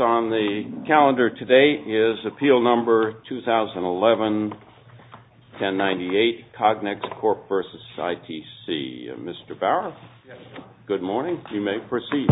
On the calendar today is Appeal Number 2011-1098, COGNEX CORP v. ITC. Mr. Bauer, good morning. You may proceed.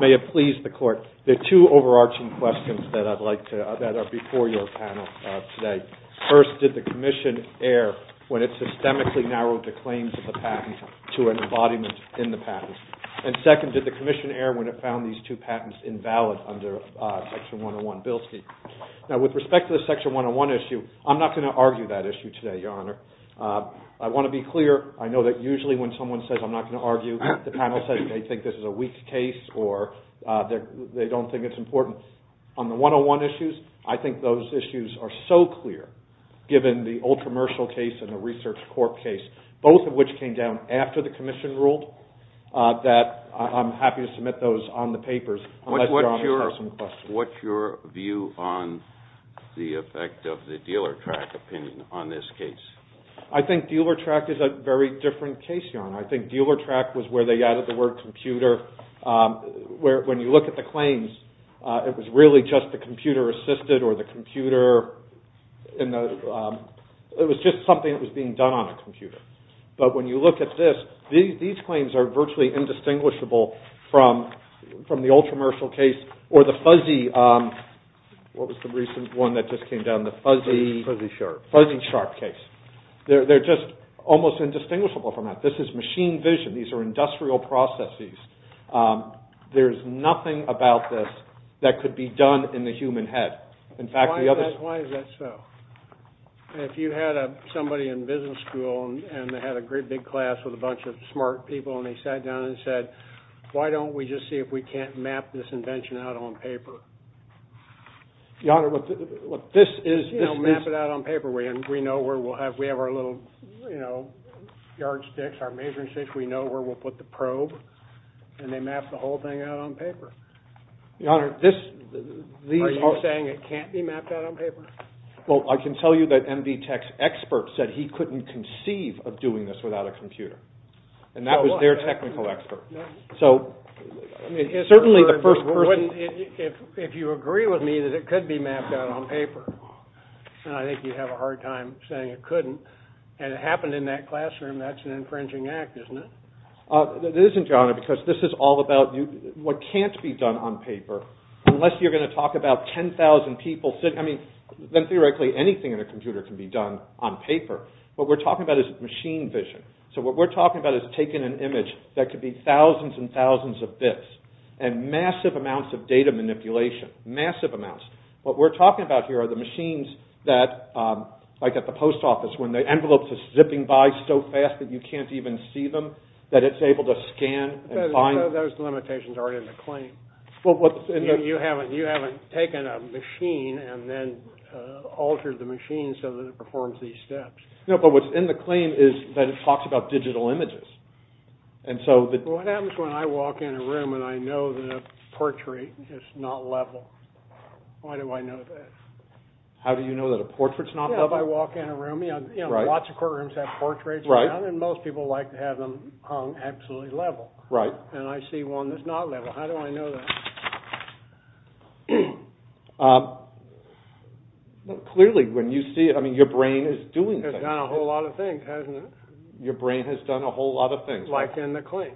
May it please the Court, there are two overarching questions that are before your panel today. First, did the Commission err when it systemically narrowed the claims of the patent to an embodiment in the patent? And second, did the Commission err when it found these two patents invalid under Section 101 Bilski? Now, with respect to the Section 101 issue, I'm not going to argue that issue today, Your Honor. I want to be clear. I know that usually when someone says, I'm not going to argue, the panel says they think this is a weak case or they don't think it's important. On the 101 issues, I think those issues are so clear, given the Old Commercial case and the Research Corp case, both of which came down after the Commission ruled, that I'm happy to submit those on the papers unless Your Honor has some questions. What's your view on the effect of the Dealertrack opinion on this case? I think Dealertrack is a very different case, Your Honor. I think Dealertrack was where they added the word computer. When you look at the claims, it was really just the computer-assisted or the computer, it was just something that was being done on a computer. But when you look at this, these claims are virtually indistinguishable from the Old Commercial case or the fuzzy, what was the recent one that just came down? The fuzzy shark case. They're just almost indistinguishable from that. This is machine vision. These are industrial processes. There's nothing about this that could be done in the human head. Why is that so? If you had somebody in business school and they had a great big class with a bunch of smart people and they sat down and said, why don't we just see if we can't map this invention out on paper? Your Honor, this is... Map it out on paper. We have our little yardsticks, our measuring sticks, we know where we'll put the probe, and they map the whole thing out on paper. Your Honor, this... Are you saying it can't be mapped out on paper? Well, I can tell you that MD Tech's expert said he couldn't conceive of doing this without a computer. And that was their technical expert. So, certainly the first person... If you agree with me that it could be mapped out on paper, and I think you have a hard time saying it couldn't, and it happened in that classroom, that's an infringing act, isn't it? It isn't, Your Honor, because this is all about what can't be done on paper unless you're going to talk about 10,000 people sitting... I mean, then theoretically anything in a computer can be done on paper. What we're talking about is machine vision. So what we're talking about is taking an image that could be thousands and thousands of bits and massive amounts of data manipulation. Massive amounts. What we're talking about here are the machines that, like at the post office, when the envelopes are zipping by so fast that you can't even see them, that it's able to scan and find... Those limitations aren't in the claim. You haven't taken a machine and then altered the machine so that it performs these steps. No, but what's in the claim is that it talks about digital images. What happens when I walk in a room and I know the portrait is not level? Why do I know that? How do you know that a portrait is not level? Yeah, if I walk in a room, you know, lots of courtrooms have portraits around and most people like to have them hung absolutely level. Right. And I see one that's not level. How do I know that? Clearly, when you see it, I mean, your brain is doing things. It's done a whole lot of things, hasn't it? Your brain has done a whole lot of things. Like in the claim.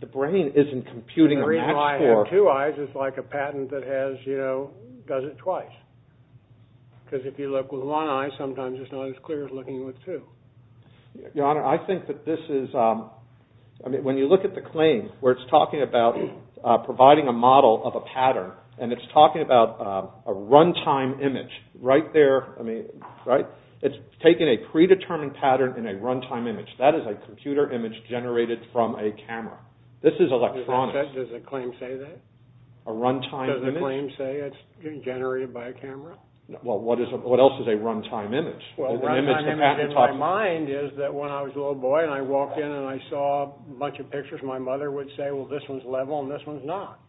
The brain isn't computing a max score. If I have two eyes, it's like a patent that has, you know, does it twice. Because if you look with one eye, sometimes it's not as clear as looking with two. Your Honor, I think that this is... I mean, when you look at the claim where it's talking about providing a model of a pattern, and it's talking about a runtime image right there, I mean, right? It's taking a predetermined pattern in a runtime image. That is a computer image generated from a camera. This is electronics. Does the claim say that? A runtime image? Does the claim say it's generated by a camera? Well, what else is a runtime image? Well, a runtime image in my mind is that when I was a little boy, and I walked in and I saw a bunch of pictures, my mother would say, well, this one's level and this one's not.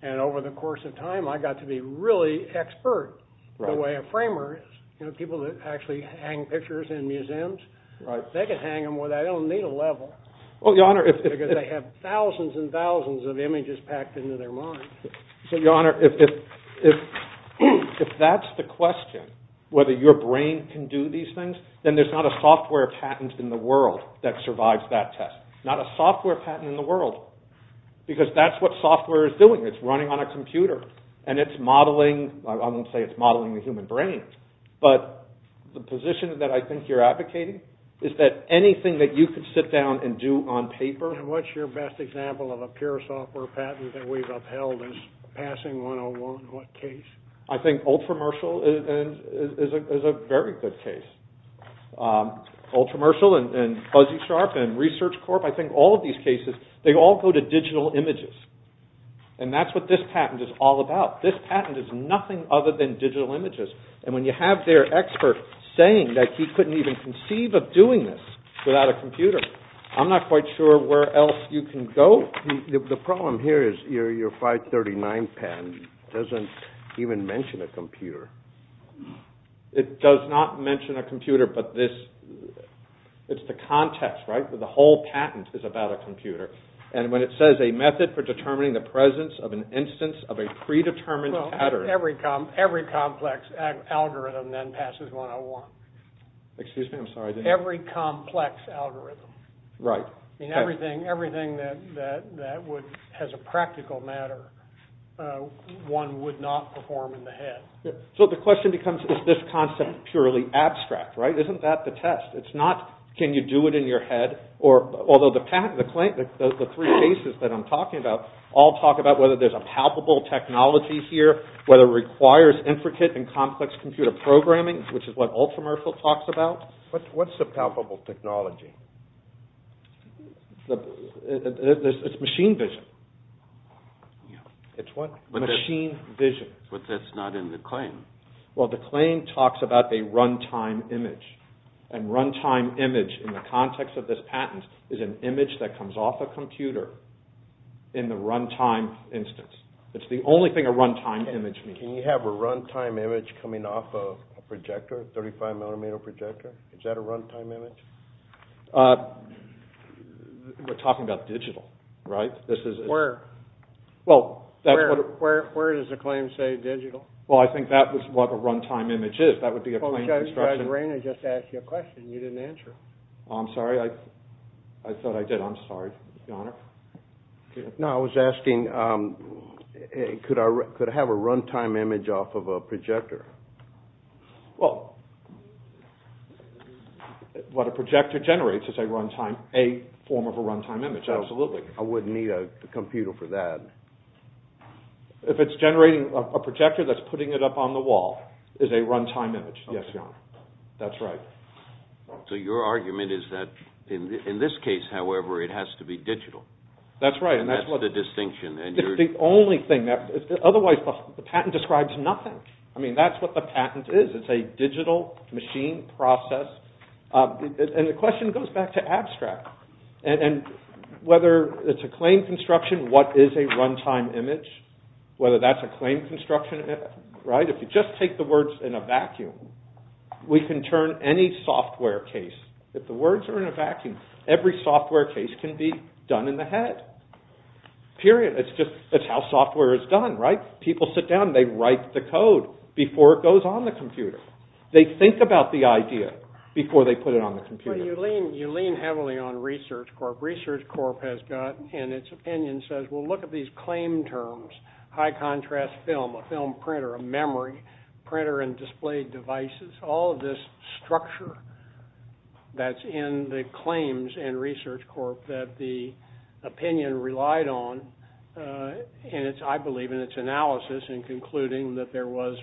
And over the course of time, I got to be really expert the way a framer is. You know, people that actually hang pictures in museums, they can hang them where they don't need a level. Because they have thousands and thousands of images packed into their mind. So, Your Honor, if that's the question, whether your brain can do these things, then there's not a software patent in the world that survives that test. Not a software patent in the world, because that's what software is doing. It's running on a computer, and it's modeling. I won't say it's modeling the human brain, but the position that I think you're advocating is that anything that you could sit down and do on paper... And what's your best example of a pure software patent that we've upheld as passing 101? What case? I think Ultramershal is a very good case. Ultramershal and Fuzzy Sharp and Research Corp, I think all of these cases, they all go to digital images. And that's what this patent is all about. This patent is nothing other than digital images. And when you have their expert saying that he couldn't even conceive of doing this without a computer, I'm not quite sure where else you can go. The problem here is your 539 patent doesn't even mention a computer. It does not mention a computer, but it's the context, right? The whole patent is about a computer. And when it says, a method for determining the presence of an instance of a predetermined pattern... Well, every complex algorithm then passes 101. Excuse me, I'm sorry. Every complex algorithm. Right. Everything that has a practical matter, one would not perform in the head. So the question becomes, is this concept purely abstract, right? Isn't that the test? It's not, can you do it in your head? Although the three cases that I'm talking about all talk about whether there's a palpable technology here, whether it requires intricate and complex computer programming, which is what Ultramershal talks about. What's the palpable technology? It's machine vision. It's what? Machine vision. But that's not in the claim. Well, the claim talks about a run-time image. And run-time image in the context of this patent is an image that comes off a computer in the run-time instance. It's the only thing a run-time image means. Can you have a run-time image coming off a projector, a 35 millimeter projector? Is that a run-time image? We're talking about digital, right? Where? Well, that's what it is. Where does the claim say digital? Well, I think that was what a run-time image is. That would be a plain construction. Judge Rainer just asked you a question you didn't answer. I'm sorry, I thought I did. I'm sorry, Your Honor. No, I was asking, could I have a run-time image off of a projector? Well, what a projector generates is a form of a run-time image. Absolutely. I wouldn't need a computer for that. If it's generating a projector that's putting it up on the wall is a run-time image. Yes, Your Honor. That's right. So your argument is that in this case, however, it has to be digital. That's right. That's the distinction. It's the only thing. Otherwise, the patent describes nothing. I mean, that's what the patent is. It's a digital machine process. And the question goes back to abstract. And whether it's a claim construction, what is a run-time image? Whether that's a claim construction, right? If you just take the words in a vacuum, we can turn any software case. If the words are in a vacuum, every software case can be done in the head. Period. That's how software is done, right? People sit down and they write the code before it goes on the computer. They think about the idea before they put it on the computer. You lean heavily on Research Corp. Research Corp. has got, in its opinion, says, well, look at these claim terms. High contrast film, a film printer, a memory printer, and displayed devices. All of this structure that's in the claims in Research Corp. that the opinion relied on. And I believe in its analysis in concluding that there was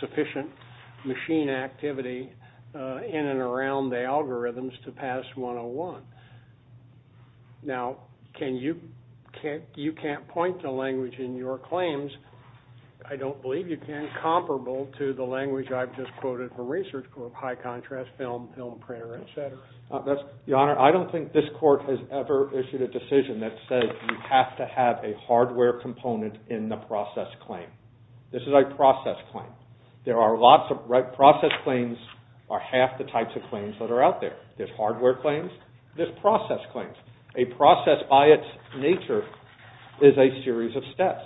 sufficient machine activity in and around the algorithms to pass 101. Now, you can't point to language in your claims, I don't believe you can, comparable to the language I've just quoted from Research Corp. High contrast film, film printer, et cetera. Your Honor, I don't think this Court has ever issued a decision that says you have to have a hardware component in the process claim. This is a process claim. There are lots of process claims, or half the types of claims that are out there. There's hardware claims, there's process claims. A process by its nature is a series of steps.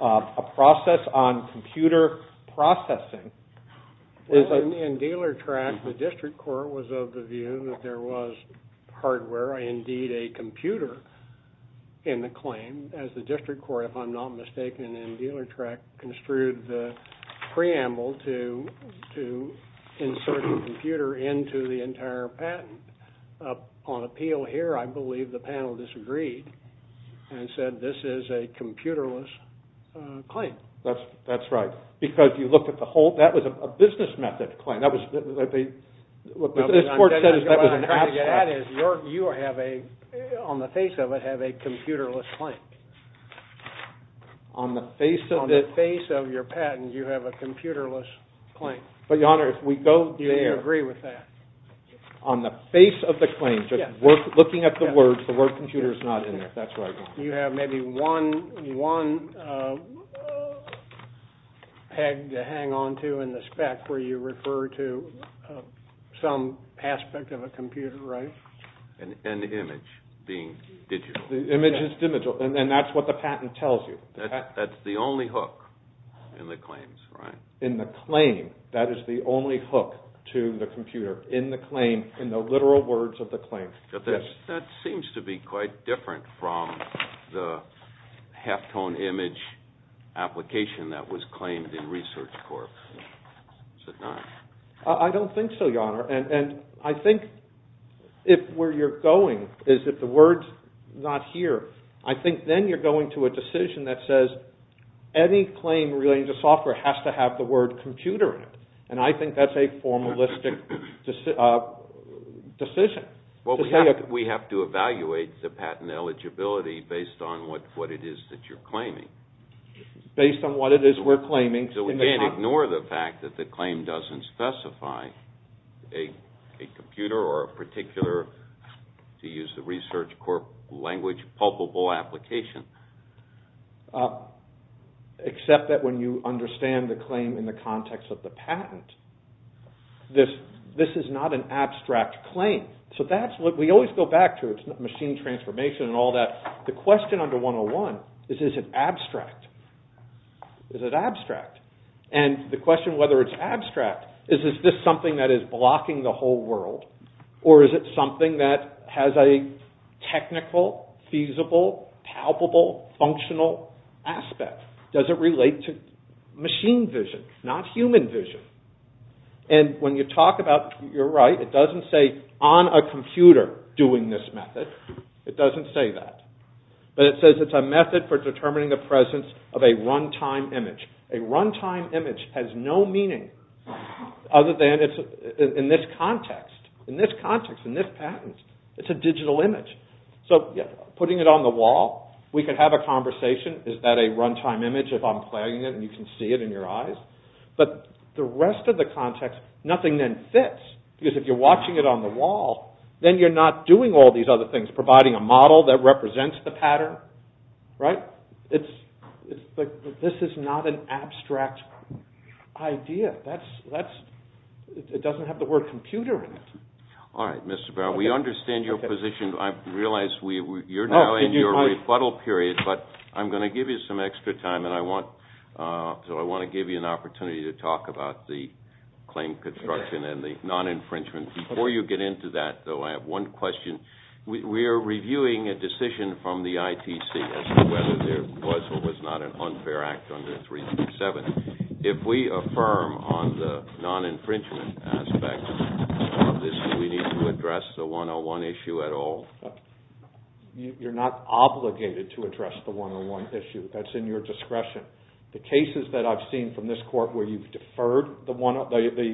A process on computer processing is a... that there was hardware, indeed a computer, in the claim. As the District Court, if I'm not mistaken, in Dealertrack, construed the preamble to insert the computer into the entire patent. Upon appeal here, I believe the panel disagreed and said this is a computerless claim. That's right. Because you look at the whole... that was a business method claim. What this Court said is that was an abstract. What I'm trying to get at is you have a... on the face of it, have a computerless claim. On the face of it? On the face of your patent, you have a computerless claim. But, Your Honor, if we go there... Do you agree with that? On the face of the claim, just looking at the words, the word computer is not in there. You have maybe one peg to hang on to in the spec where you refer to some aspect of a computer, right? An image being digital. The image is digital, and that's what the patent tells you. That's the only hook in the claims, right? In the claim, that is the only hook to the computer. In the claim, in the literal words of the claim. That seems to be quite different from the halftone image application that was claimed in Research Corps. Is it not? I don't think so, Your Honor. And I think if where you're going is if the word's not here, I think then you're going to a decision that says any claim relating to software has to have the word computer in it. And I think that's a formalistic decision. Well, we have to evaluate the patent eligibility based on what it is that you're claiming. Based on what it is we're claiming. So we can't ignore the fact that the claim doesn't specify a computer or a particular, to use the Research Corps language, palpable application? Except that when you understand the claim in the context of the patent, this is not an abstract claim. So that's what we always go back to. It's machine transformation and all that. The question under 101 is, is it abstract? Is it abstract? And the question whether it's abstract is, is this something that is blocking the whole world? Or is it something that has a technical, feasible, palpable, functional aspect? Does it relate to machine vision, not human vision? And when you talk about, you're right, it doesn't say on a computer doing this method. It doesn't say that. But it says it's a method for determining the presence of a run-time image. A run-time image has no meaning other than in this context, in this context, in this patent. It's a digital image. So putting it on the wall, we can have a conversation. Is that a run-time image if I'm playing it and you can see it in your eyes? But the rest of the context, nothing then fits. Because if you're watching it on the wall, then you're not doing all these other things, providing a model that represents the pattern, right? This is not an abstract idea. It doesn't have the word computer in it. All right, Mr. Brown. We understand your position. I realize you're now in your rebuttal period, but I'm going to give you some extra time, and I want to give you an opportunity to talk about the claim construction and the non-infringement. Before you get into that, though, I have one question. We are reviewing a decision from the ITC as to whether there was or was not an unfair act under 337. If we affirm on the non-infringement aspect of this, do we need to address the 101 issue at all? You're not obligated to address the 101 issue. That's in your discretion. The cases that I've seen from this court where you've deferred the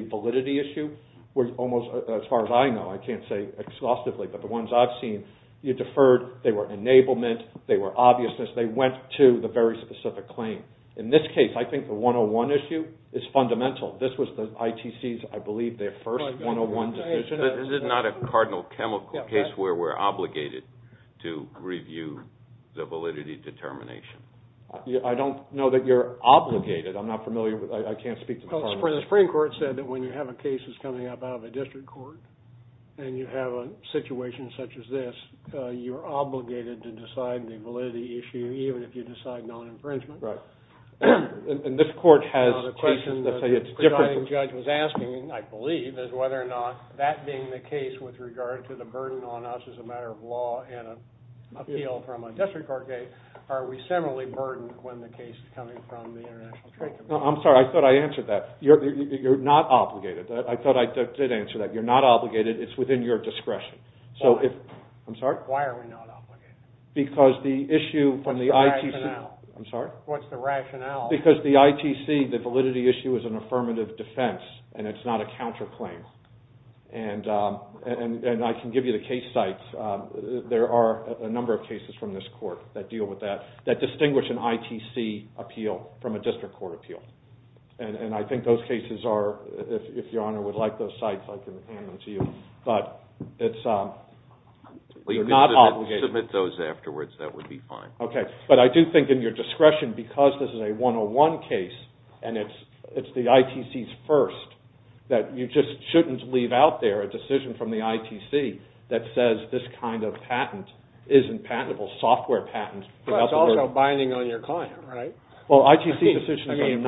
validity issue, as far as I know, I can't say exhaustively, but the ones I've seen you deferred, they were enablement, they were obviousness, they went to the very specific claim. In this case, I think the 101 issue is fundamental. This was the ITC's, I believe, their first 101 decision. This is not a cardinal chemical case where we're obligated to review the validity determination. I don't know that you're obligated. I'm not familiar with that. I can't speak to the cardinal. The Supreme Court said that when you have a case that's coming up out of a district court and you have a situation such as this, you're obligated to decide the validity issue, even if you decide non-infringement. Right. And this court has taken the say it's different. The question the presiding judge was asking, I believe, is whether or not that being the case with regard to the burden on us as a matter of law and appeal from a district court case, are we similarly burdened when the case is coming from the International Trade Commission? I'm sorry. I thought I answered that. You're not obligated. I thought I did answer that. You're not obligated. It's within your discretion. I'm sorry. Why are we not obligated? Because the issue from the ITC. What's the rationale? I'm sorry. What's the rationale? Because the ITC, the validity issue, is an affirmative defense, and it's not a counterclaim. And I can give you the case sites. There are a number of cases from this court that deal with that, that distinguish an ITC appeal from a district court appeal. And I think those cases are, if Your Honor would like those sites, I can hand them to you. But you're not obligated. Submit those afterwards. That would be fine. Okay. But I do think in your discretion, because this is a 101 case and it's the ITC's first, that you just shouldn't leave out there a decision from the ITC that says this kind of patent isn't patentable, software patent. But it's also binding on your client, right? Well, ITC decisions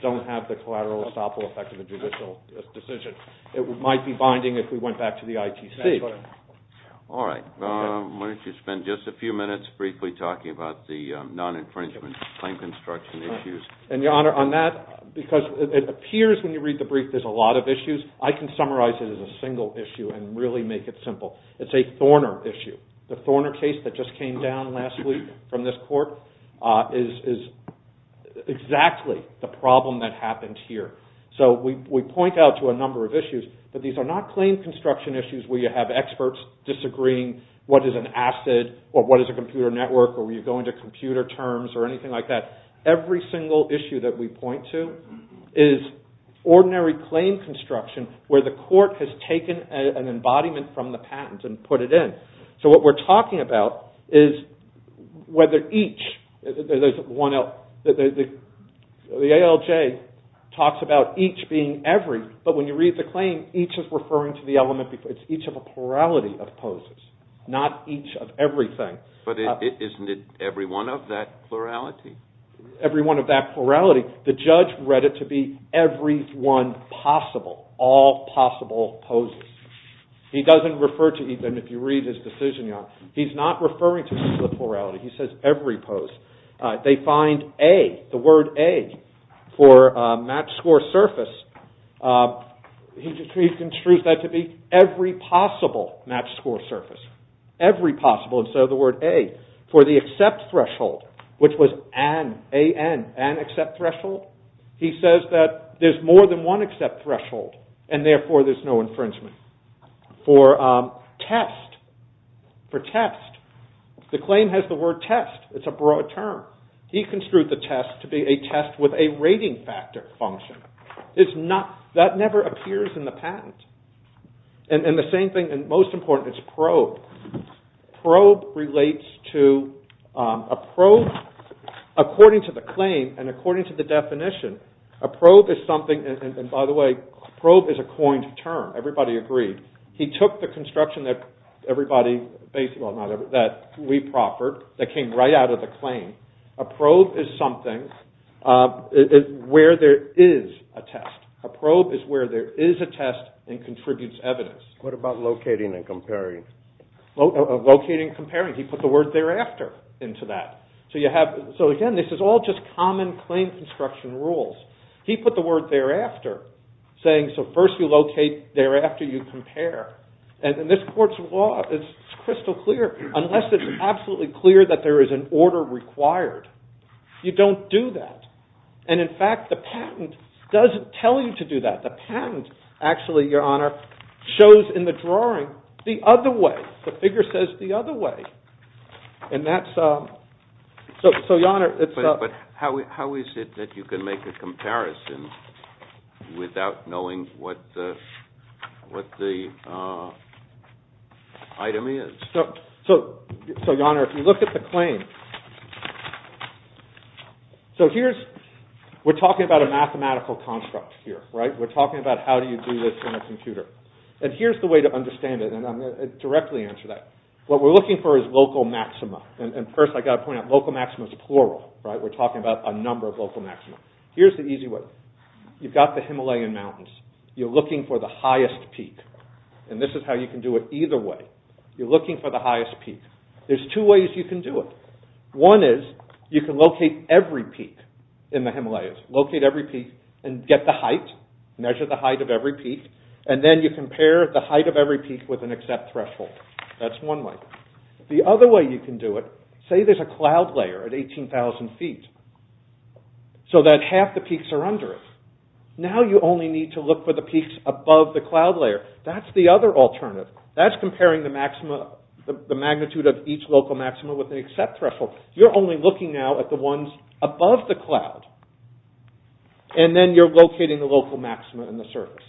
don't have the collateral estoppel effect of a judicial decision. It might be binding if we went back to the ITC. All right. Why don't you spend just a few minutes briefly talking about the non-infringement claim construction issues. And, Your Honor, on that, because it appears when you read the brief there's a lot of issues. I can summarize it as a single issue and really make it simple. It's a Thorner issue. The Thorner case that just came down last week from this court is exactly the problem that happened here. So we point out to a number of issues, but these are not claim construction issues where you have experts disagreeing what is an asset or what is a computer network or where you go into computer terms or anything like that. Every single issue that we point to is ordinary claim construction where the court has taken an embodiment from the patent and put it in. So what we're talking about is whether each, the ALJ talks about each being every, but when you read the claim each is referring to the element, it's each of a plurality of poses, not each of everything. But isn't it every one of that plurality? Every one of that plurality. The judge read it to be every one possible, all possible poses. He doesn't refer to each of them if you read his decision. He's not referring to each of the plurality. He says every pose. They find A, the word A, for match score surface. He construes that to be every possible match score surface. Every possible instead of the word A. For the accept threshold, which was AN, AN, an accept threshold, he says that there's more than one accept threshold and therefore there's no infringement. For test, for test, the claim has the word test. It's a broad term. He construed the test to be a test with a rating factor function. That never appears in the patent. And the same thing, and most important, is probe. Probe relates to a probe. According to the claim and according to the definition, a probe is something, and by the way, probe is a coined term. Everybody agreed. He took the construction that we proffered that came right out of the claim. A probe is something where there is a test. A probe is where there is a test and contributes evidence. What about locating and comparing? Locating and comparing. He put the word thereafter into that. So again, this is all just common claim construction rules. He put the word thereafter, saying so first you locate, thereafter you compare. And this court's law is crystal clear. Unless it's absolutely clear that there is an order required, you don't do that. And in fact, the patent doesn't tell you to do that. The patent actually, Your Honor, shows in the drawing the other way. The figure says the other way. But how is it that you can make a comparison without knowing what the item is? So, Your Honor, if you look at the claim. So here's, we're talking about a mathematical construct here. We're talking about how do you do this in a computer. And here's the way to understand it, and I'm going to directly answer that. What we're looking for is local maxima. And first, I've got to point out local maxima is plural. We're talking about a number of local maxima. Here's the easy way. You've got the Himalayan mountains. You're looking for the highest peak. And this is how you can do it either way. You're looking for the highest peak. There's two ways you can do it. One is you can locate every peak in the Himalayas. Locate every peak and get the height. Measure the height of every peak. And then you compare the height of every peak with an accept threshold. That's one way. The other way you can do it, say there's a cloud layer at 18,000 feet, so that half the peaks are under it. Now you only need to look for the peaks above the cloud layer. That's the other alternative. That's comparing the magnitude of each local maxima with an accept threshold. You're only looking now at the ones above the cloud. And then you're locating the local maxima in the surface.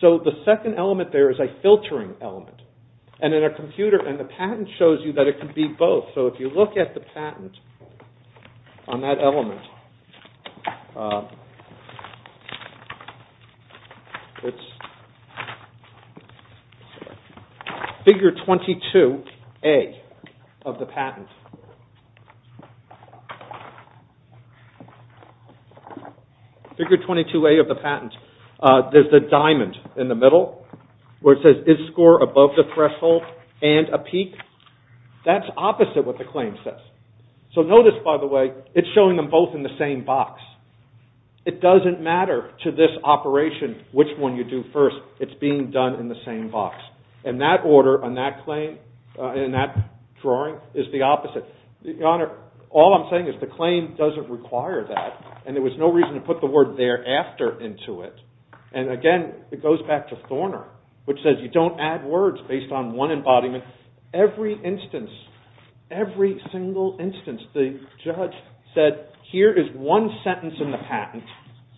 So the second element there is a filtering element. And in a computer, and the patent shows you that it can be both. So if you look at the patent on that element, it's Figure 22A of the patent. Figure 22A of the patent. There's the diamond in the middle where it says, Is score above the threshold and a peak? That's opposite what the claim says. So notice, by the way, it's showing them both in the same box. It doesn't matter to this operation which one you do first. It's being done in the same box. And that order on that claim, in that drawing, is the opposite. Your Honor, all I'm saying is the claim doesn't require that. And there was no reason to put the word thereafter into it. And again, it goes back to Thorner, which says you don't add words based on one embodiment. Every instance, every single instance, the judge said, Here is one sentence in the patent,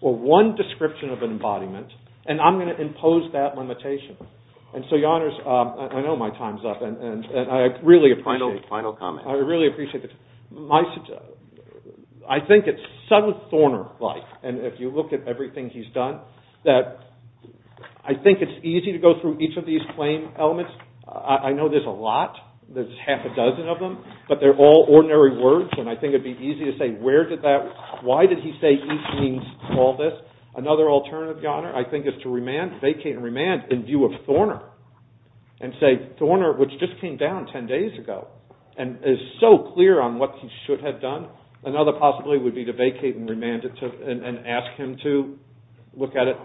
or one description of an embodiment, and I'm going to impose that limitation. And so, Your Honors, I know my time's up, and I really appreciate it. I really appreciate it. I think it's so Thorner-like, and if you look at everything he's done, that I think it's easy to go through each of these claim elements. I know there's a lot. There's half a dozen of them. But they're all ordinary words, and I think it would be easy to say, Why did he say each means all this? Another alternative, Your Honor, I think is to vacate and remand in view of Thorner and say, Thorner, which just came down ten days ago, and is so clear on what he should have done. Another, possibly, would be to vacate and remand it and ask him to look at it.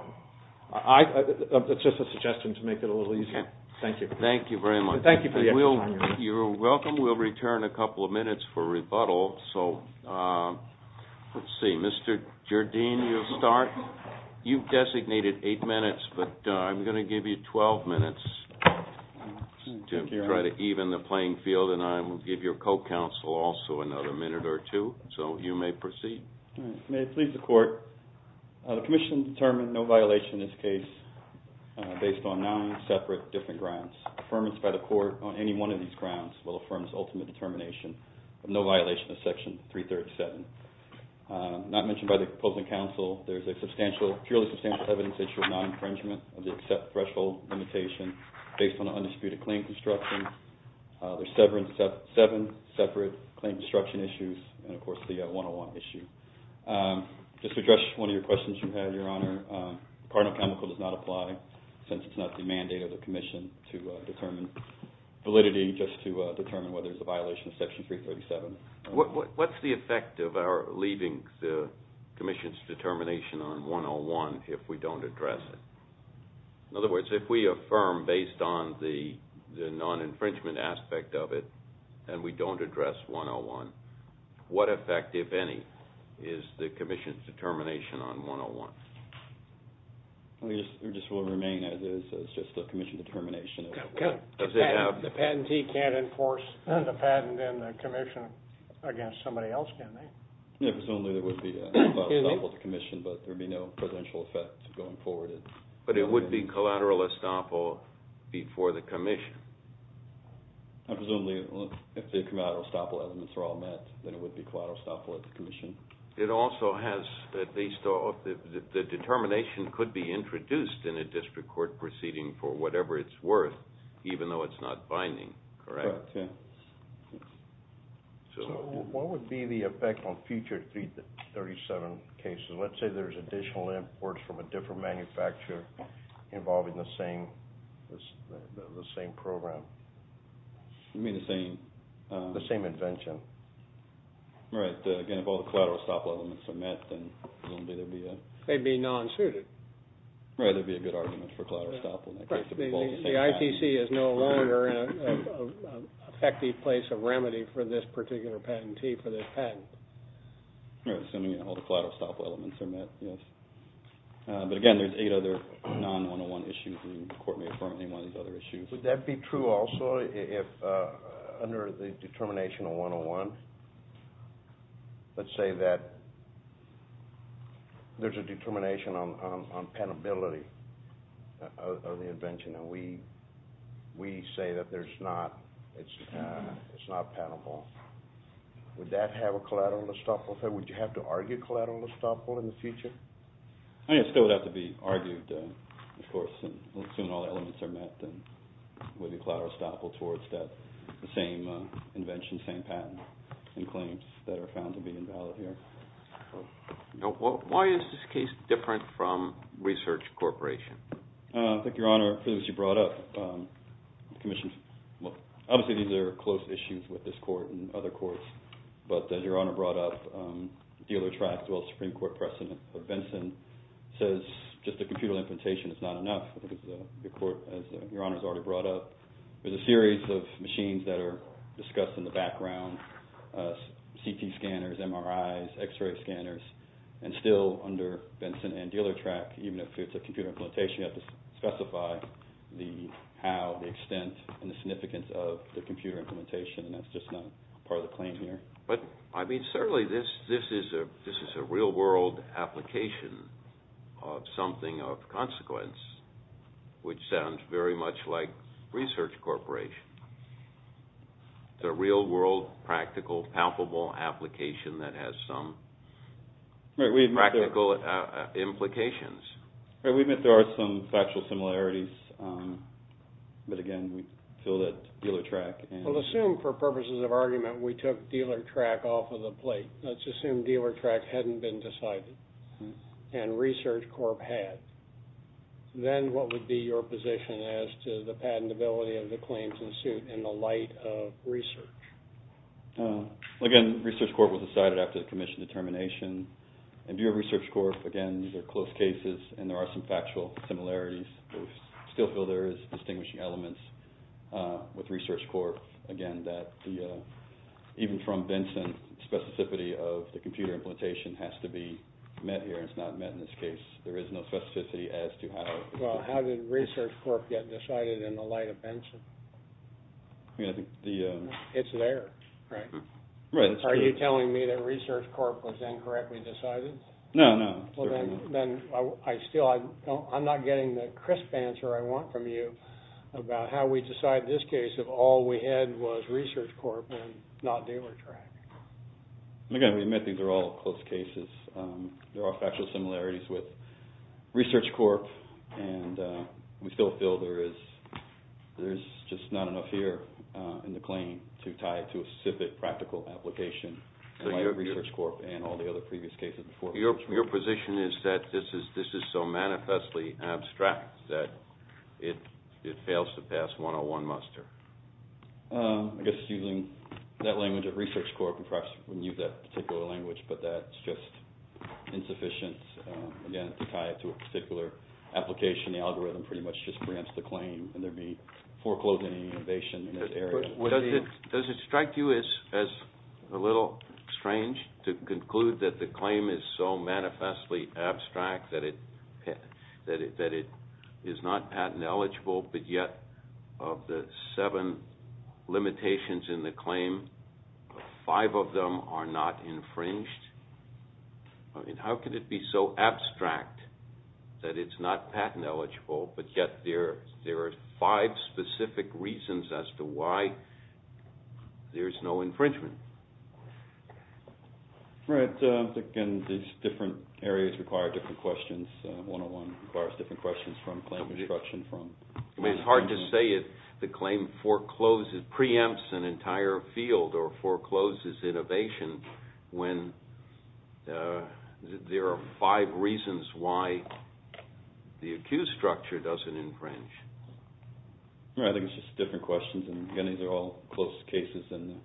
That's just a suggestion to make it a little easier. Thank you. Thank you very much. Thank you for the explanation. You're welcome. We'll return a couple of minutes for rebuttal. So, let's see. Mr. Jardine, you'll start. You've designated eight minutes, but I'm going to give you 12 minutes to try to even the playing field, and I will give your co-counsel also another minute or two. So, you may proceed. May it please the Court. The Commission determined no violation in this case based on nine separate different grounds. Affirmance by the Court on any one of these grounds will affirm its ultimate determination of no violation of Section 337. Not mentioned by the opposing counsel, there is a purely substantial evidence issue of non-infringement of the accept threshold limitation based on an undisputed claim construction. There are seven separate claim construction issues, and, of course, the 101 issue. Just to address one of your questions you had, Your Honor, cardinal chemical does not apply since it's not the mandate of the Commission to determine validity just to determine whether it's a violation of Section 337. What's the effect of our leaving the Commission's determination on 101 if we don't address it? In other words, if we affirm based on the non-infringement aspect of it and we don't address 101, what effect, if any, is the Commission's determination on 101? It just will remain as is. It's just the Commission determination. The patentee can't enforce the patent in the Commission against somebody else, can they? Presumably there would be a collateral estoppel at the Commission, but there would be no presidential effect going forward. But it would be collateral estoppel before the Commission. Presumably, if the collateral estoppel elements are all met, then it would be collateral estoppel at the Commission. It also has, at least, the determination could be introduced in a district court proceeding for whatever it's worth, even though it's not binding, correct? Correct, yeah. So what would be the effect on future 337 cases? Let's say there's additional imports from a different manufacturer involving the same program. You mean the same? The same invention. Right, again, if all the collateral estoppel elements are met, then presumably there'd be a... They'd be non-suited. Right, there'd be a good argument for collateral estoppel in that case. The ITC is no longer an effective place of remedy for this particular patentee for this patent. Right, assuming all the collateral estoppel elements are met, yes. But again, there's eight other non-101 issues and the court may affirm any one of these other issues. Would that be true also if, under the determination of 101, let's say that there's a determination on penability of the invention, and we say that it's not penable, would that have a collateral estoppel effect? Would you have to argue collateral estoppel in the future? Yes, it would have to be argued, of course. Assuming all the elements are met, then it would be collateral estoppel towards the same invention, same patent and claims that are found to be invalid here. Why is this case different from Research Corporation? I think, Your Honor, as you brought up, obviously these are close issues with this court and other courts, but as Your Honor brought up, the other tracts, well, Supreme Court precedent of Benson, says just a computer implementation is not enough. Your Honor has already brought up, there's a series of machines that are discussed in the background, CT scanners, MRIs, X-ray scanners, and still under Benson and Dealer tract, even if it's a computer implementation, you have to specify the how, the extent, and the significance of the computer implementation, and that's just not part of the claim here. But, I mean, certainly this is a real-world application of something of consequence, which sounds very much like Research Corporation. It's a real-world, practical, palpable application that has some practical implications. We admit there are some factual similarities, but, again, we feel that Dealer tract... Well, assume, for purposes of argument, we took Dealer tract off of the plate. Let's assume Dealer tract hadn't been decided, and Research Corp. had. Then what would be your position as to the patentability of the claims in suit in the light of Research? Again, Research Corp. was decided after the commission determination. In view of Research Corp., again, these are close cases, and there are some factual similarities. We still feel there is distinguishing elements with Research Corp., again, that even from Benson, the specificity of the computer implementation has to be met here. It's not met in this case. There is no specificity as to how... Well, how did Research Corp. get decided in the light of Benson? It's there, right? Right. Are you telling me that Research Corp. was incorrectly decided? No, no. Well, then, I still... I'm not getting the crisp answer I want from you about how we decide this case if all we had was Research Corp. and not Dealer tract. Again, we admit these are all close cases. There are factual similarities with Research Corp. and we still feel there is... there's just not enough here in the claim to tie it to a specific practical application in light of Research Corp. and all the other previous cases before. Your position is that this is so manifestly abstract that it fails to pass 101 muster. I guess using that language of Research Corp. perhaps we wouldn't use that particular language, but that's just insufficient, again, to tie it to a particular application. The algorithm pretty much just preempts the claim and there'd be foreclosing innovation in this area. Does it strike you as a little strange to conclude that the claim is so manifestly abstract that it is not patent eligible, but yet of the seven limitations in the claim, five of them are not infringed? I mean, how could it be so abstract that it's not patent eligible, but yet there are five specific reasons as to why there's no infringement? Right. Again, these different areas require different questions. 101 requires different questions from claim construction from... I mean, it's hard to say if the claim forecloses... preempts an entire field or forecloses innovation when there are five reasons why the accused structure doesn't infringe. Right. I think it's just different questions, and again, these are all close cases in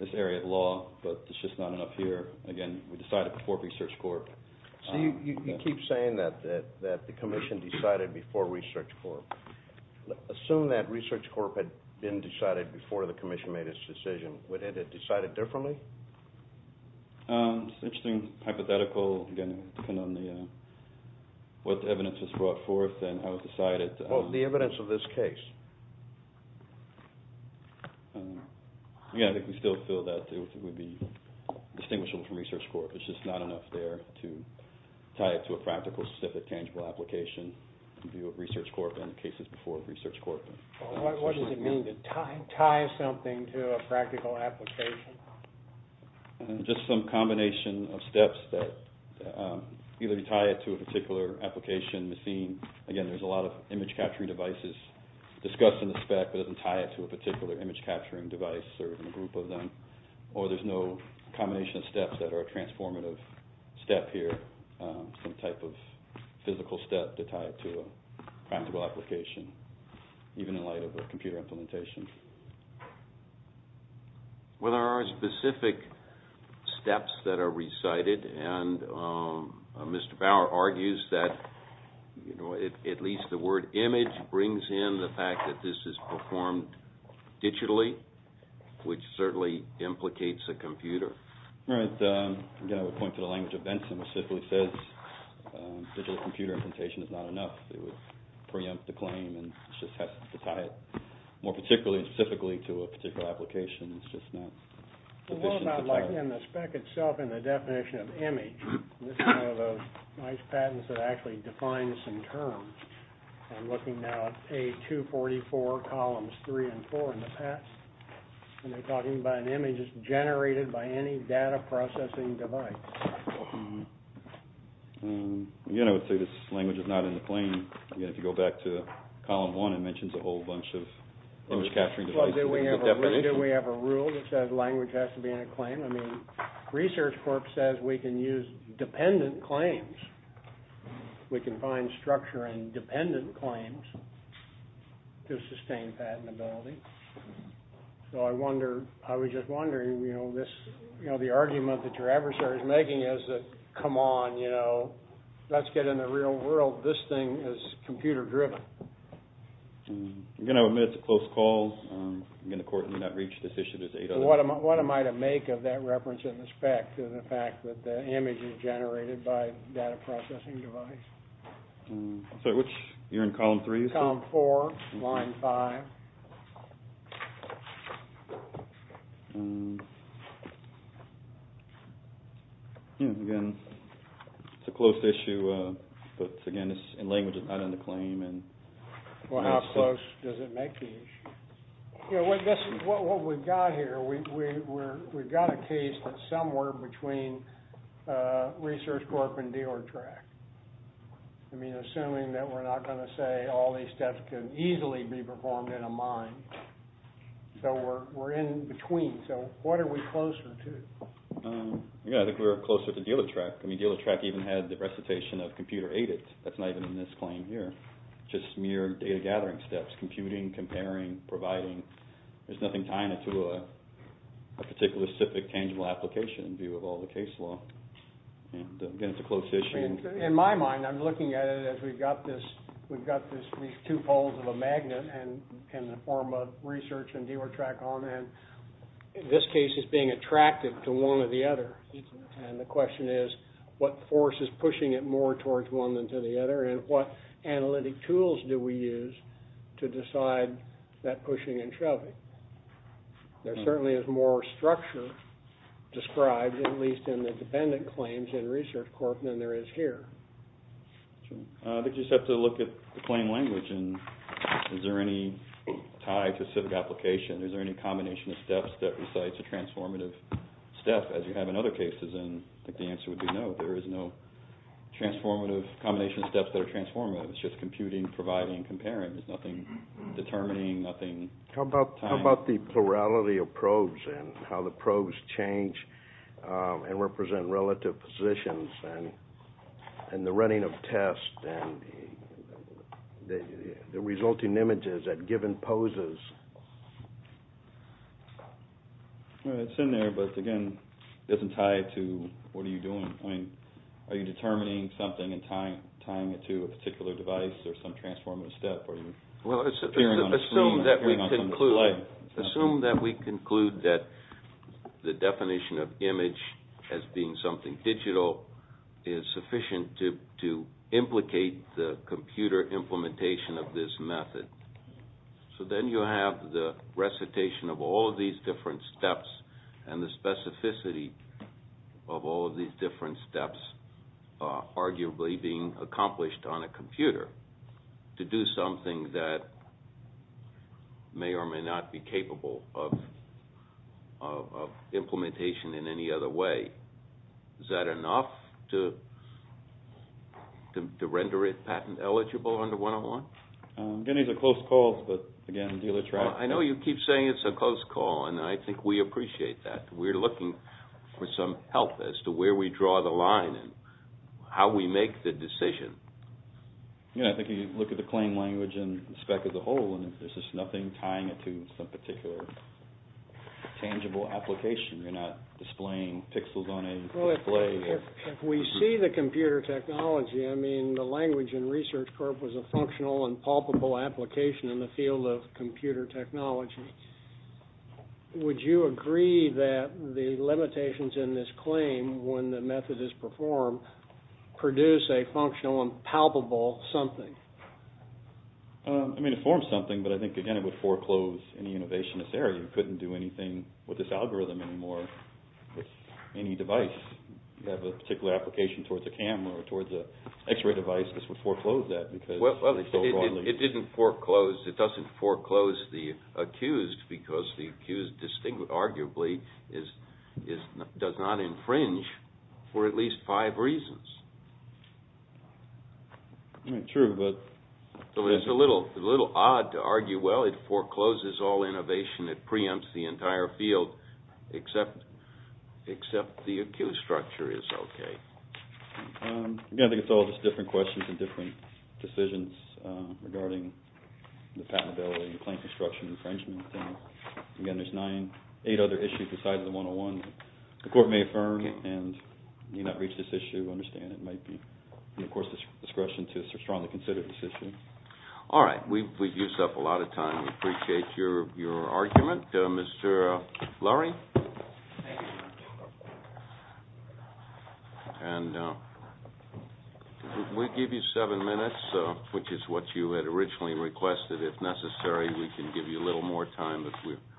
this area of law, but it's just not enough here. Again, we decided before Research Corp. So you keep saying that the Commission decided before Research Corp. Assume that Research Corp. had been decided before the Commission made its decision. Would it have decided differently? It's an interesting hypothetical, again, depending on what evidence was brought forth and how it was decided. What's the evidence of this case? Again, I think we still feel that it would be distinguishable from Research Corp. It's just not enough there to tie it to a practical, specific, tangible application in view of Research Corp. and the cases before Research Corp. What does it mean to tie something to a practical application? Just some combination of steps that either you tie it to a particular application, machine. Again, there's a lot of image-capturing devices discussed in the spec, but it doesn't tie it to a particular image-capturing device or a group of them, or there's no combination of steps that are a transformative step here, some type of physical step to tie it to a practical application, even in light of a computer implementation. Well, there are specific steps that are recited, and Mr. Bauer argues that at least the word image brings in the fact that this is performed digitally, which certainly implicates a computer. Right. Again, I would point to the language of Benson, which simply says digital computer implementation is not enough. It would preempt the claim, and it just has to tie it more particularly and specifically to a particular application. It's just not sufficient to tie it. Well, what about in the spec itself and the definition of image? This is one of those nice patents that actually defines some terms. I'm looking now at A244 columns 3 and 4 in the past, and they're talking about an image that's generated by any data-processing device. Again, I would say this language is not in the claim, and if you go back to column 1, it mentions a whole bunch of image-capturing devices. Do we have a rule that says language has to be in a claim? I mean, Research Corp. says we can use dependent claims. We can find structure in dependent claims to sustain patentability. So I was just wondering, the argument that your adversary is making is that, come on, let's get in the real world. This thing is computer-driven. Again, I would admit it's a close call. Again, the court did not reach this issue. What am I to make of that reference in the spec to the fact that the image is generated by a data-processing device? Sorry, which? You're in column 3, you said? Column 4, line 5. Yeah, again, it's a close issue, but again, in language, it's not in the claim. Well, how close does it make the issue? What we've got here, we've got a case that's somewhere between Research Corp. and Dior Track. I mean, assuming that we're not going to say all these steps can easily be performed in a model mind, so we're in between. So what are we closer to? I think we're closer to Dior Track. I mean, Dior Track even had the recitation of computer-aided. That's not even in this claim here, just mere data-gathering steps, computing, comparing, providing. There's nothing tying it to a particular specific tangible application in view of all the case law. Again, it's a close issue. In my mind, I'm looking at it as we've got this, these two poles of a magnet in the form of Research and Dior Track on, and this case is being attracted to one or the other. And the question is, what force is pushing it more towards one than to the other, and what analytic tools do we use to decide that pushing and shoving? There certainly is more structure described, at least in the dependent claims in Research Corp. than there is here. I think you just have to look at the plain language. Is there any tie to a specific application? Is there any combination of steps that recites a transformative step, as you have in other cases? I think the answer would be no. There is no combination of steps that are transformative. It's just computing, providing, comparing. There's nothing determining, nothing tying. How about the plurality of probes and how the probes change and represent relative positions? And the running of tests and the resulting images at given poses. It's in there, but again, it doesn't tie to what are you doing. Are you determining something and tying it to a particular device or some transformative step? Assume that we conclude that the definition of image as being something digital is sufficient to implicate the computer implementation of this method. So then you have the recitation of all of these different steps and the specificity of all of these different steps arguably being accomplished on a computer to do something that may or may not be capable of implementation in any other way. Is that enough to render it patent eligible under 101? Again, these are close calls, but again, dealer tribe. I know you keep saying it's a close call and I think we appreciate that. We're looking for some help as to where we draw the line and how we make the decision. Yeah, I think you look at the claim language and the spec as a whole and there's just nothing tying it to some particular tangible application. You're not displaying pixels on a display. If we see the computer technology, I mean, the language in Research Corp was a functional and palpable application in the field of computer technology. Would you agree that the limitations in this claim when the method is performed produce a functional and palpable something? I mean, it forms something, but I think, again, it would foreclose any innovation in this area. You couldn't do anything with this algorithm anymore with any device. You have a particular application towards a camera or towards an x-ray device, this would foreclose that. It doesn't foreclose the accused because the accused arguably does not infringe for at least five reasons. True, but... It's a little odd to argue, well, it forecloses all innovation, it preempts the entire field, except the accused structure is okay. Yeah, I think it's all just different questions and different decisions regarding the patentability and plain construction infringement. Again, there's nine, eight other issues besides the 101. The court may affirm and may not reach this issue, but we do understand it might be the court's discretion to strongly consider this issue. All right, we've used up a lot of time. We appreciate your argument. Mr. Lurie? Thank you, Your Honor. And we'll give you seven minutes, which is what you had originally requested. If necessary, we can give you a little more time, but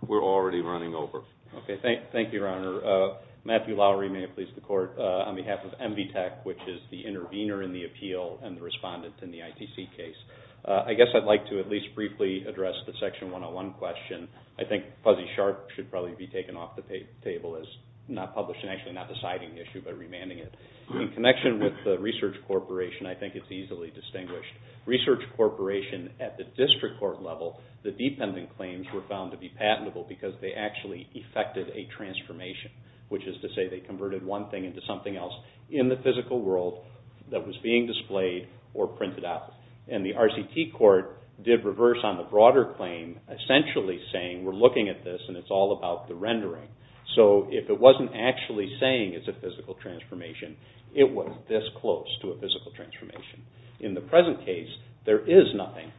we're already running over. Okay, thank you, Your Honor. Matthew Lowry, may it please the Court, on behalf of NV Tech, which is the intervener in the appeal and the respondent in the ITC case. I guess I'd like to at least briefly address the Section 101 question. I think Fuzzy Sharp should probably be taken off the table as not published and actually not deciding the issue but remanding it. In connection with the Research Corporation, I think it's easily distinguished. Research Corporation, at the district court level, the dependent claims were found to be patentable because they actually effected a transformation, which is to say they converted one thing into something else in the physical world that was being displayed or printed out. And the RCT Court did reverse on the broader claim, essentially saying we're looking at this and it's all about the rendering. So if it wasn't actually saying it's a physical transformation, it was this close to a physical transformation. In the present case, there is nothing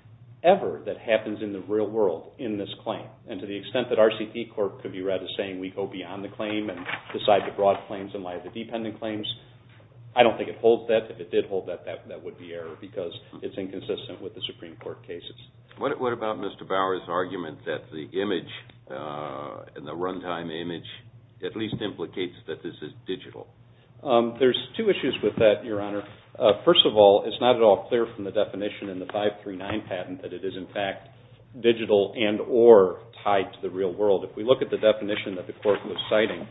ever that happens in the real world in this claim. And to the extent that RCT Court could be read as saying we go beyond the claim and decide the broad claims and why the dependent claims, I don't think it holds that. If it did hold that, that would be error because it's inconsistent with the Supreme Court cases. What about Mr. Bower's argument that the image and the runtime image at least implicates that this is digital? There's two issues with that, Your Honor. First of all, it's not at all clear from the definition in the 539 patent that it is in fact digital and or tied to the real world. If we look at the definition that the court was citing,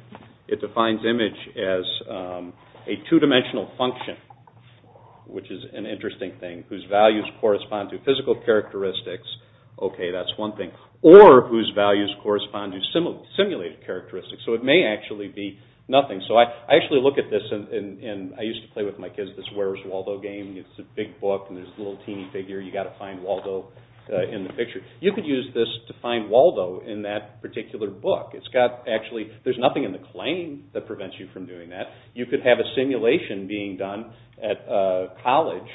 it defines image as a two-dimensional function, which is an interesting thing, whose values correspond to physical characteristics. Okay, that's one thing. Or whose values correspond to simulated characteristics. So it may actually be nothing. So I actually look at this and I used to play with my kids this Where's Waldo game. It's a big book and there's a little teeny figure. You've got to find Waldo in the picture. You could use this to find Waldo in that particular book. There's nothing in the claim that prevents you from doing that. You could have a simulation being done at college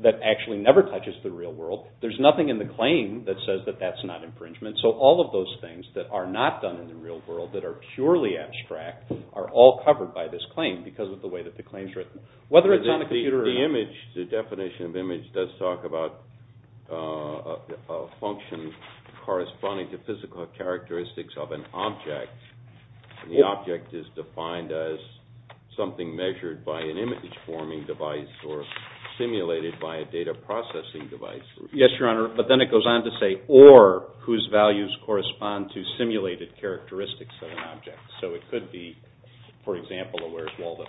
that actually never touches the real world. There's nothing in the claim that says that that's not infringement. So all of those things that are not done in the real world that are purely abstract are all covered by this claim because of the way that the claim is written. Whether it's on a computer or not. The definition of image does talk about a function corresponding to physical characteristics of an object. The object is defined as something measured by an image-forming device or simulated by a data-processing device. Yes, Your Honor, but then it goes on to say or whose values correspond to simulated characteristics of an object. So it could be, for example, a Where's Waldo.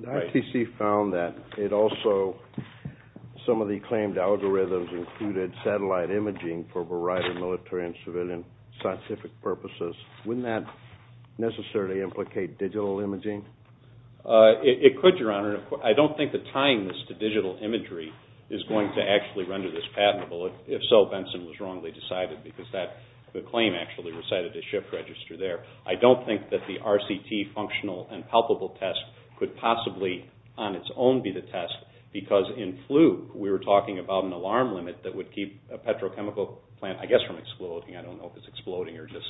The RTC found that it also, some of the claimed algorithms included satellite imaging for a variety of military and civilian scientific purposes. Wouldn't that necessarily implicate digital imaging? It could, Your Honor. I don't think that tying this to digital imagery is going to actually render this patentable. If so, Benson was wrongly decided because the claim actually recited the shift register there. I don't think that the RCT functional and palpable test could possibly on its own be the test because in Fluke we were talking about an alarm limit that would keep a petrochemical plant, I guess, from exploding. I don't know if it's exploding or just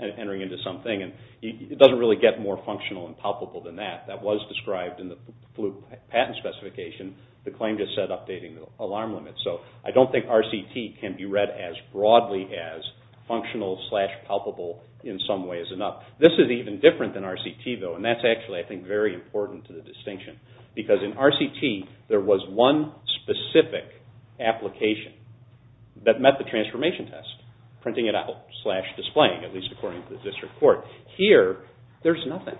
entering into something. It doesn't really get more functional and palpable than that. That was described in the Fluke patent specification. The claim just said updating the alarm limit. So I don't think RCT can be read as broadly as functional and palpable in some ways enough. This is even different than RCT, though, and that's actually, I think, very important to the distinction. Because in RCT there was one specific application that met the transformation test, printing it out slash displaying it, at least according to the district court. Here, there's nothing.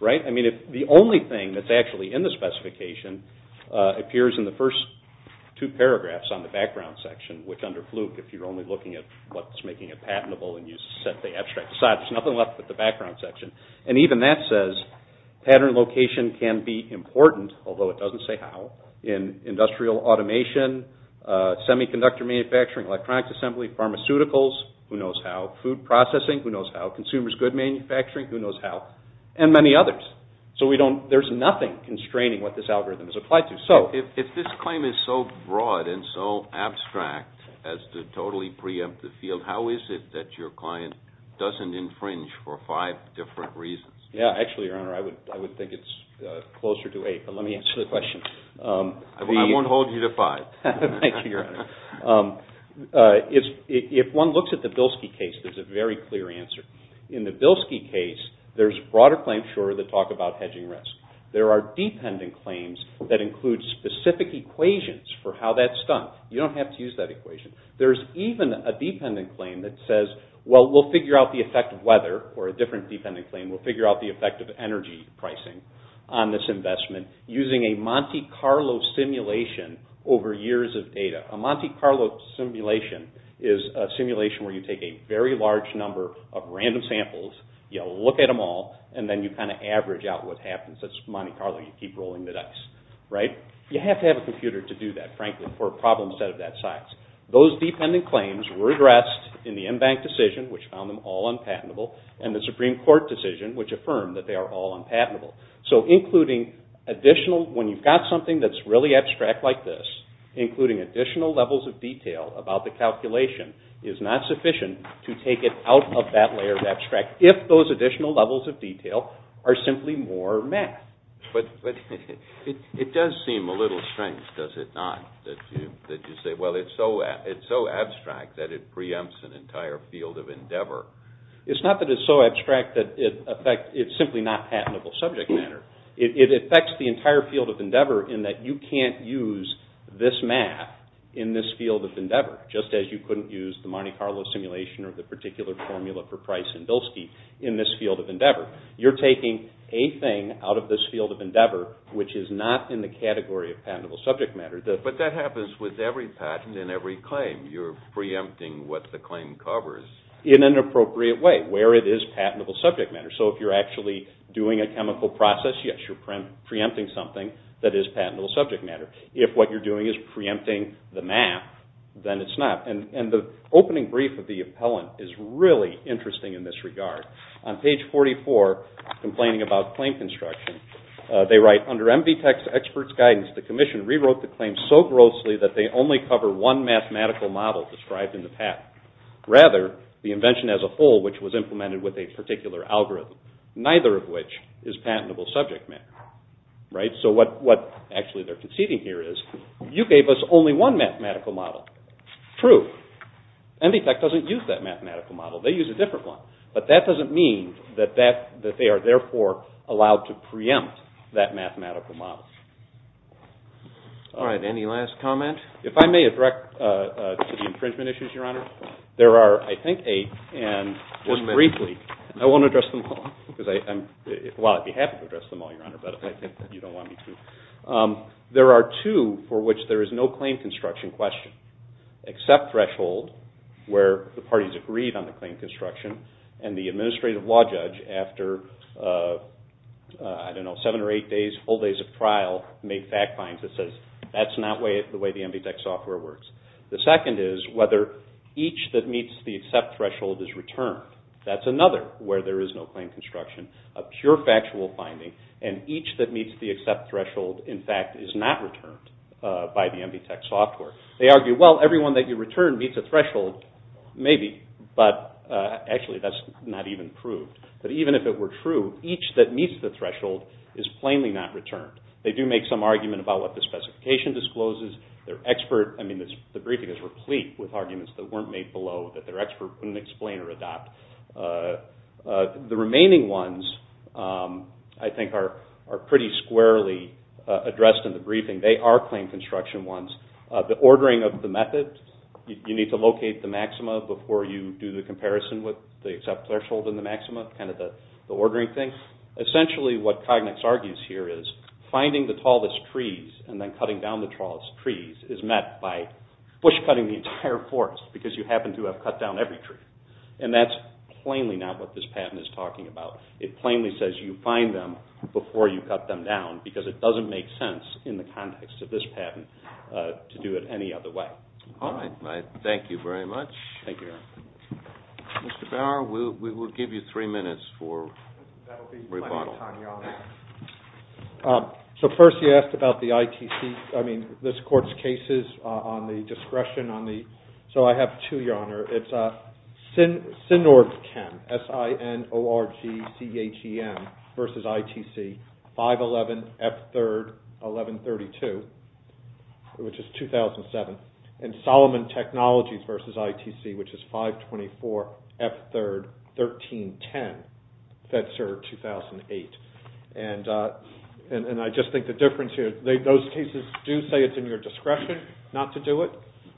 The only thing that's actually in the specification appears in the first two paragraphs on the background section, which under Fluke, if you're only looking at what's making it patentable and you set the abstract aside, there's nothing left but the background section. And even that says pattern location can be important, although it doesn't say how, in industrial automation, semiconductor manufacturing, electronics assembly, pharmaceuticals, who knows how, food processing, who knows how, consumers' goods manufacturing, who knows how, and many others. So there's nothing constraining what this algorithm is applied to. If this claim is so broad and so abstract as to totally preempt the field, how is it that your client doesn't infringe for five different reasons? Actually, Your Honor, I would think it's closer to eight, but let me answer the question. I won't hold you to five. Thank you, Your Honor. If one looks at the Bilski case, there's a very clear answer. In the Bilski case, there's broader claims, sure, that talk about hedging risk. There are dependent claims that include specific equations for how that's done. You don't have to use that equation. There's even a dependent claim that says, well, we'll figure out the effect of weather, or a different dependent claim, we'll figure out the effect of energy pricing on this investment using a Monte Carlo simulation over years of data. A Monte Carlo simulation is a simulation where you take a very large number of random samples, you look at them all, and then you kind of average out what happens. That's Monte Carlo, you keep rolling the dice, right? You have to have a computer to do that, frankly, for a problem set of that size. Those dependent claims were addressed in the M-Bank decision, which found them all unpatentable, and the Supreme Court decision, which affirmed that they are all unpatentable. So including additional, when you've got something that's really abstract like this, including additional levels of detail about the calculation is not sufficient to take it out of that layer of abstract. If those additional levels of detail are simply more math. But it does seem a little strange, does it not? That you say, well, it's so abstract that it preempts an entire field of endeavor. It's not that it's so abstract that it affects, it's simply not patentable subject matter. It affects the entire field of endeavor in that you can't use this math in this field of endeavor, just as you couldn't use the Monte Carlo simulation or the particular formula for price in Bilski in this field of endeavor. You're taking a thing out of this field of endeavor, which is not in the category of patentable subject matter. But that happens with every patent and every claim. You're preempting what the claim covers. In an appropriate way, where it is patentable subject matter. So if you're actually doing a chemical process, yes, you're preempting something that is patentable subject matter. If what you're doing is preempting the math, then it's not. And the opening brief of the appellant is really interesting in this regard. On page 44, complaining about claim construction, they write, under MD Tech's expert's guidance, the commission rewrote the claim so grossly that they only cover one mathematical model described in the patent. Rather, the invention as a whole, which was implemented with a particular algorithm, neither of which is patentable subject matter. So what actually they're conceding here is, you gave us only one mathematical model. True. MD Tech doesn't use that mathematical model. They use a different one. But that doesn't mean that they are, therefore, allowed to preempt that mathematical model. All right. Any last comment? If I may address the infringement issues, Your Honor. There are, I think, eight. And just briefly, I won't address them all. Well, I'd be happy to address them all, Your Honor. But I think that you don't want me to. There are two for which there is no claim construction question. Accept threshold, where the parties agreed on the claim construction, and the administrative law judge, after, I don't know, seven or eight days, full days of trial, made fact finds that says, that's not the way the MD Tech software works. The second is whether each that meets the accept threshold is returned. That's another where there is no claim construction. A pure factual finding. And each that meets the accept threshold, in fact, is not returned by the MD Tech software. They argue, well, everyone that you return meets a threshold, maybe, but actually that's not even proved. But even if it were true, each that meets the threshold is plainly not returned. They do make some argument about what the specification discloses. Their expert, I mean, the briefing is replete with arguments that weren't made below, that their expert couldn't explain or adopt. The remaining ones, I think, are pretty squarely addressed in the briefing. They are claim construction ones. The ordering of the method. You need to locate the maxima before you do the comparison with the accept threshold and the maxima, kind of the ordering thing. Essentially, what Cognix argues here is, finding the tallest trees and then cutting down the tallest trees is met by bush cutting the entire forest, because you happen to have cut down every tree. And that's plainly not what this patent is talking about. It plainly says you find them before you cut them down, because it doesn't make sense in the context of this patent to do it any other way. All right. Thank you very much. Thank you, Your Honor. Mr. Bauer, we will give you three minutes for rebuttal. That will be plenty of time, Your Honor. So first, you asked about the ITC, I mean, this Court's cases on the discretion on the... So I have two, Your Honor. It's SINORGCHEM, S-I-N-O-R-G-C-H-E-M, versus ITC, 511, F-3-R-D-11-32, which is 2007. And Solomon Technologies versus ITC, which is 524, F-3-R-D-13-10, FEDSER 2008. And I just think the difference here, those cases do say it's in your discretion not to do it,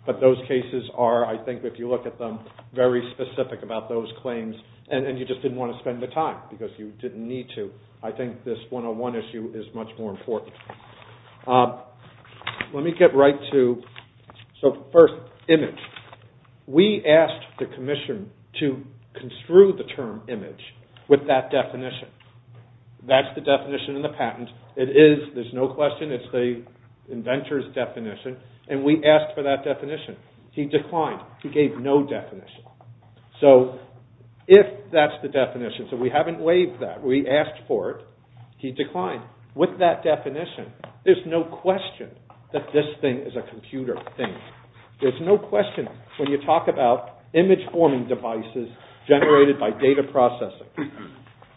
but those cases are, I think, if you look at them, very specific about those claims, and you just didn't want to spend the time, because you didn't need to, I think this one-on-one issue is much more important. Let me get right to... So first, image. We asked the Commission to construe the term image with that definition. That's the definition in the patent. It is, there's no question, it's the inventor's definition, and we asked for that definition. He declined. He gave no definition. So if that's the definition, so we haven't waived that. We asked for it. He declined. With that definition, there's no question that this thing is a computer thing. There's no question, when you talk about image-forming devices generated by data processing,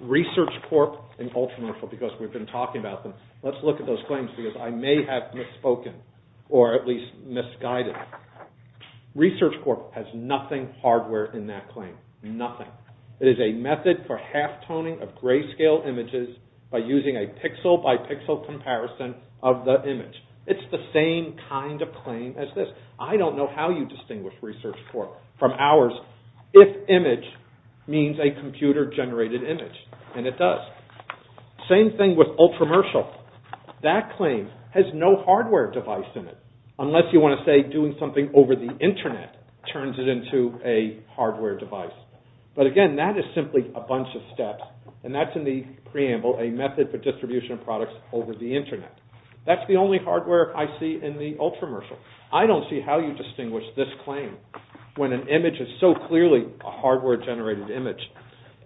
Research Corp and Ultramobile, because we've been talking about them, let's look at those claims, because I may have misspoken, or at least misguided. Research Corp has nothing hardware in that claim. Nothing. It is a method for half-toning of grayscale images by using a pixel-by-pixel comparison of the image. It's the same kind of claim as this. I don't know how you distinguish Research Corp from ours if image means a computer-generated image, and it does. Same thing with Ultramershal. That claim has no hardware device in it, unless you want to say doing something over the internet turns it into a hardware device. But again, that is simply a bunch of steps, and that's in the preamble, a method for distribution of products over the internet. That's the only hardware I see in the Ultramershal. I don't see how you distinguish this claim when an image is so clearly a hardware-generated image.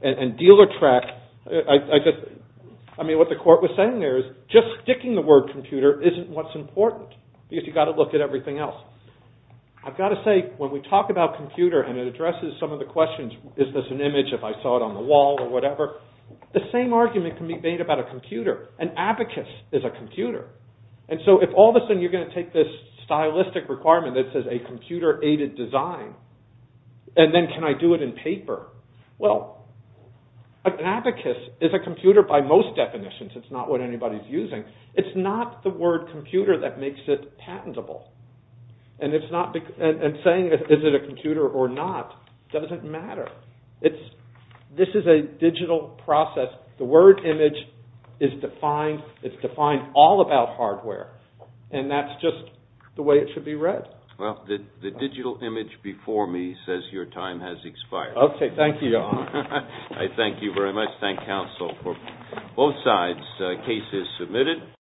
And dealer track, I mean, what the court was saying there is just sticking the word computer isn't what's important, because you've got to look at everything else. I've got to say, when we talk about computer, and it addresses some of the questions, is this an image if I saw it on the wall or whatever, the same argument can be made about a computer. An abacus is a computer. And so if all of a sudden you're going to take this stylistic requirement that says a computer-aided design, and then can I do it in paper? Well, an abacus is a computer by most definitions. It's not what anybody's using. It's not the word computer that makes it patentable. And saying is it a computer or not doesn't matter. This is a digital process. The word image is defined all about hardware, and that's just the way it should be read. Well, the digital image before me says your time has expired. Okay, thank you, Your Honor. I thank you very much. Thank counsel for both sides. The case is submitted.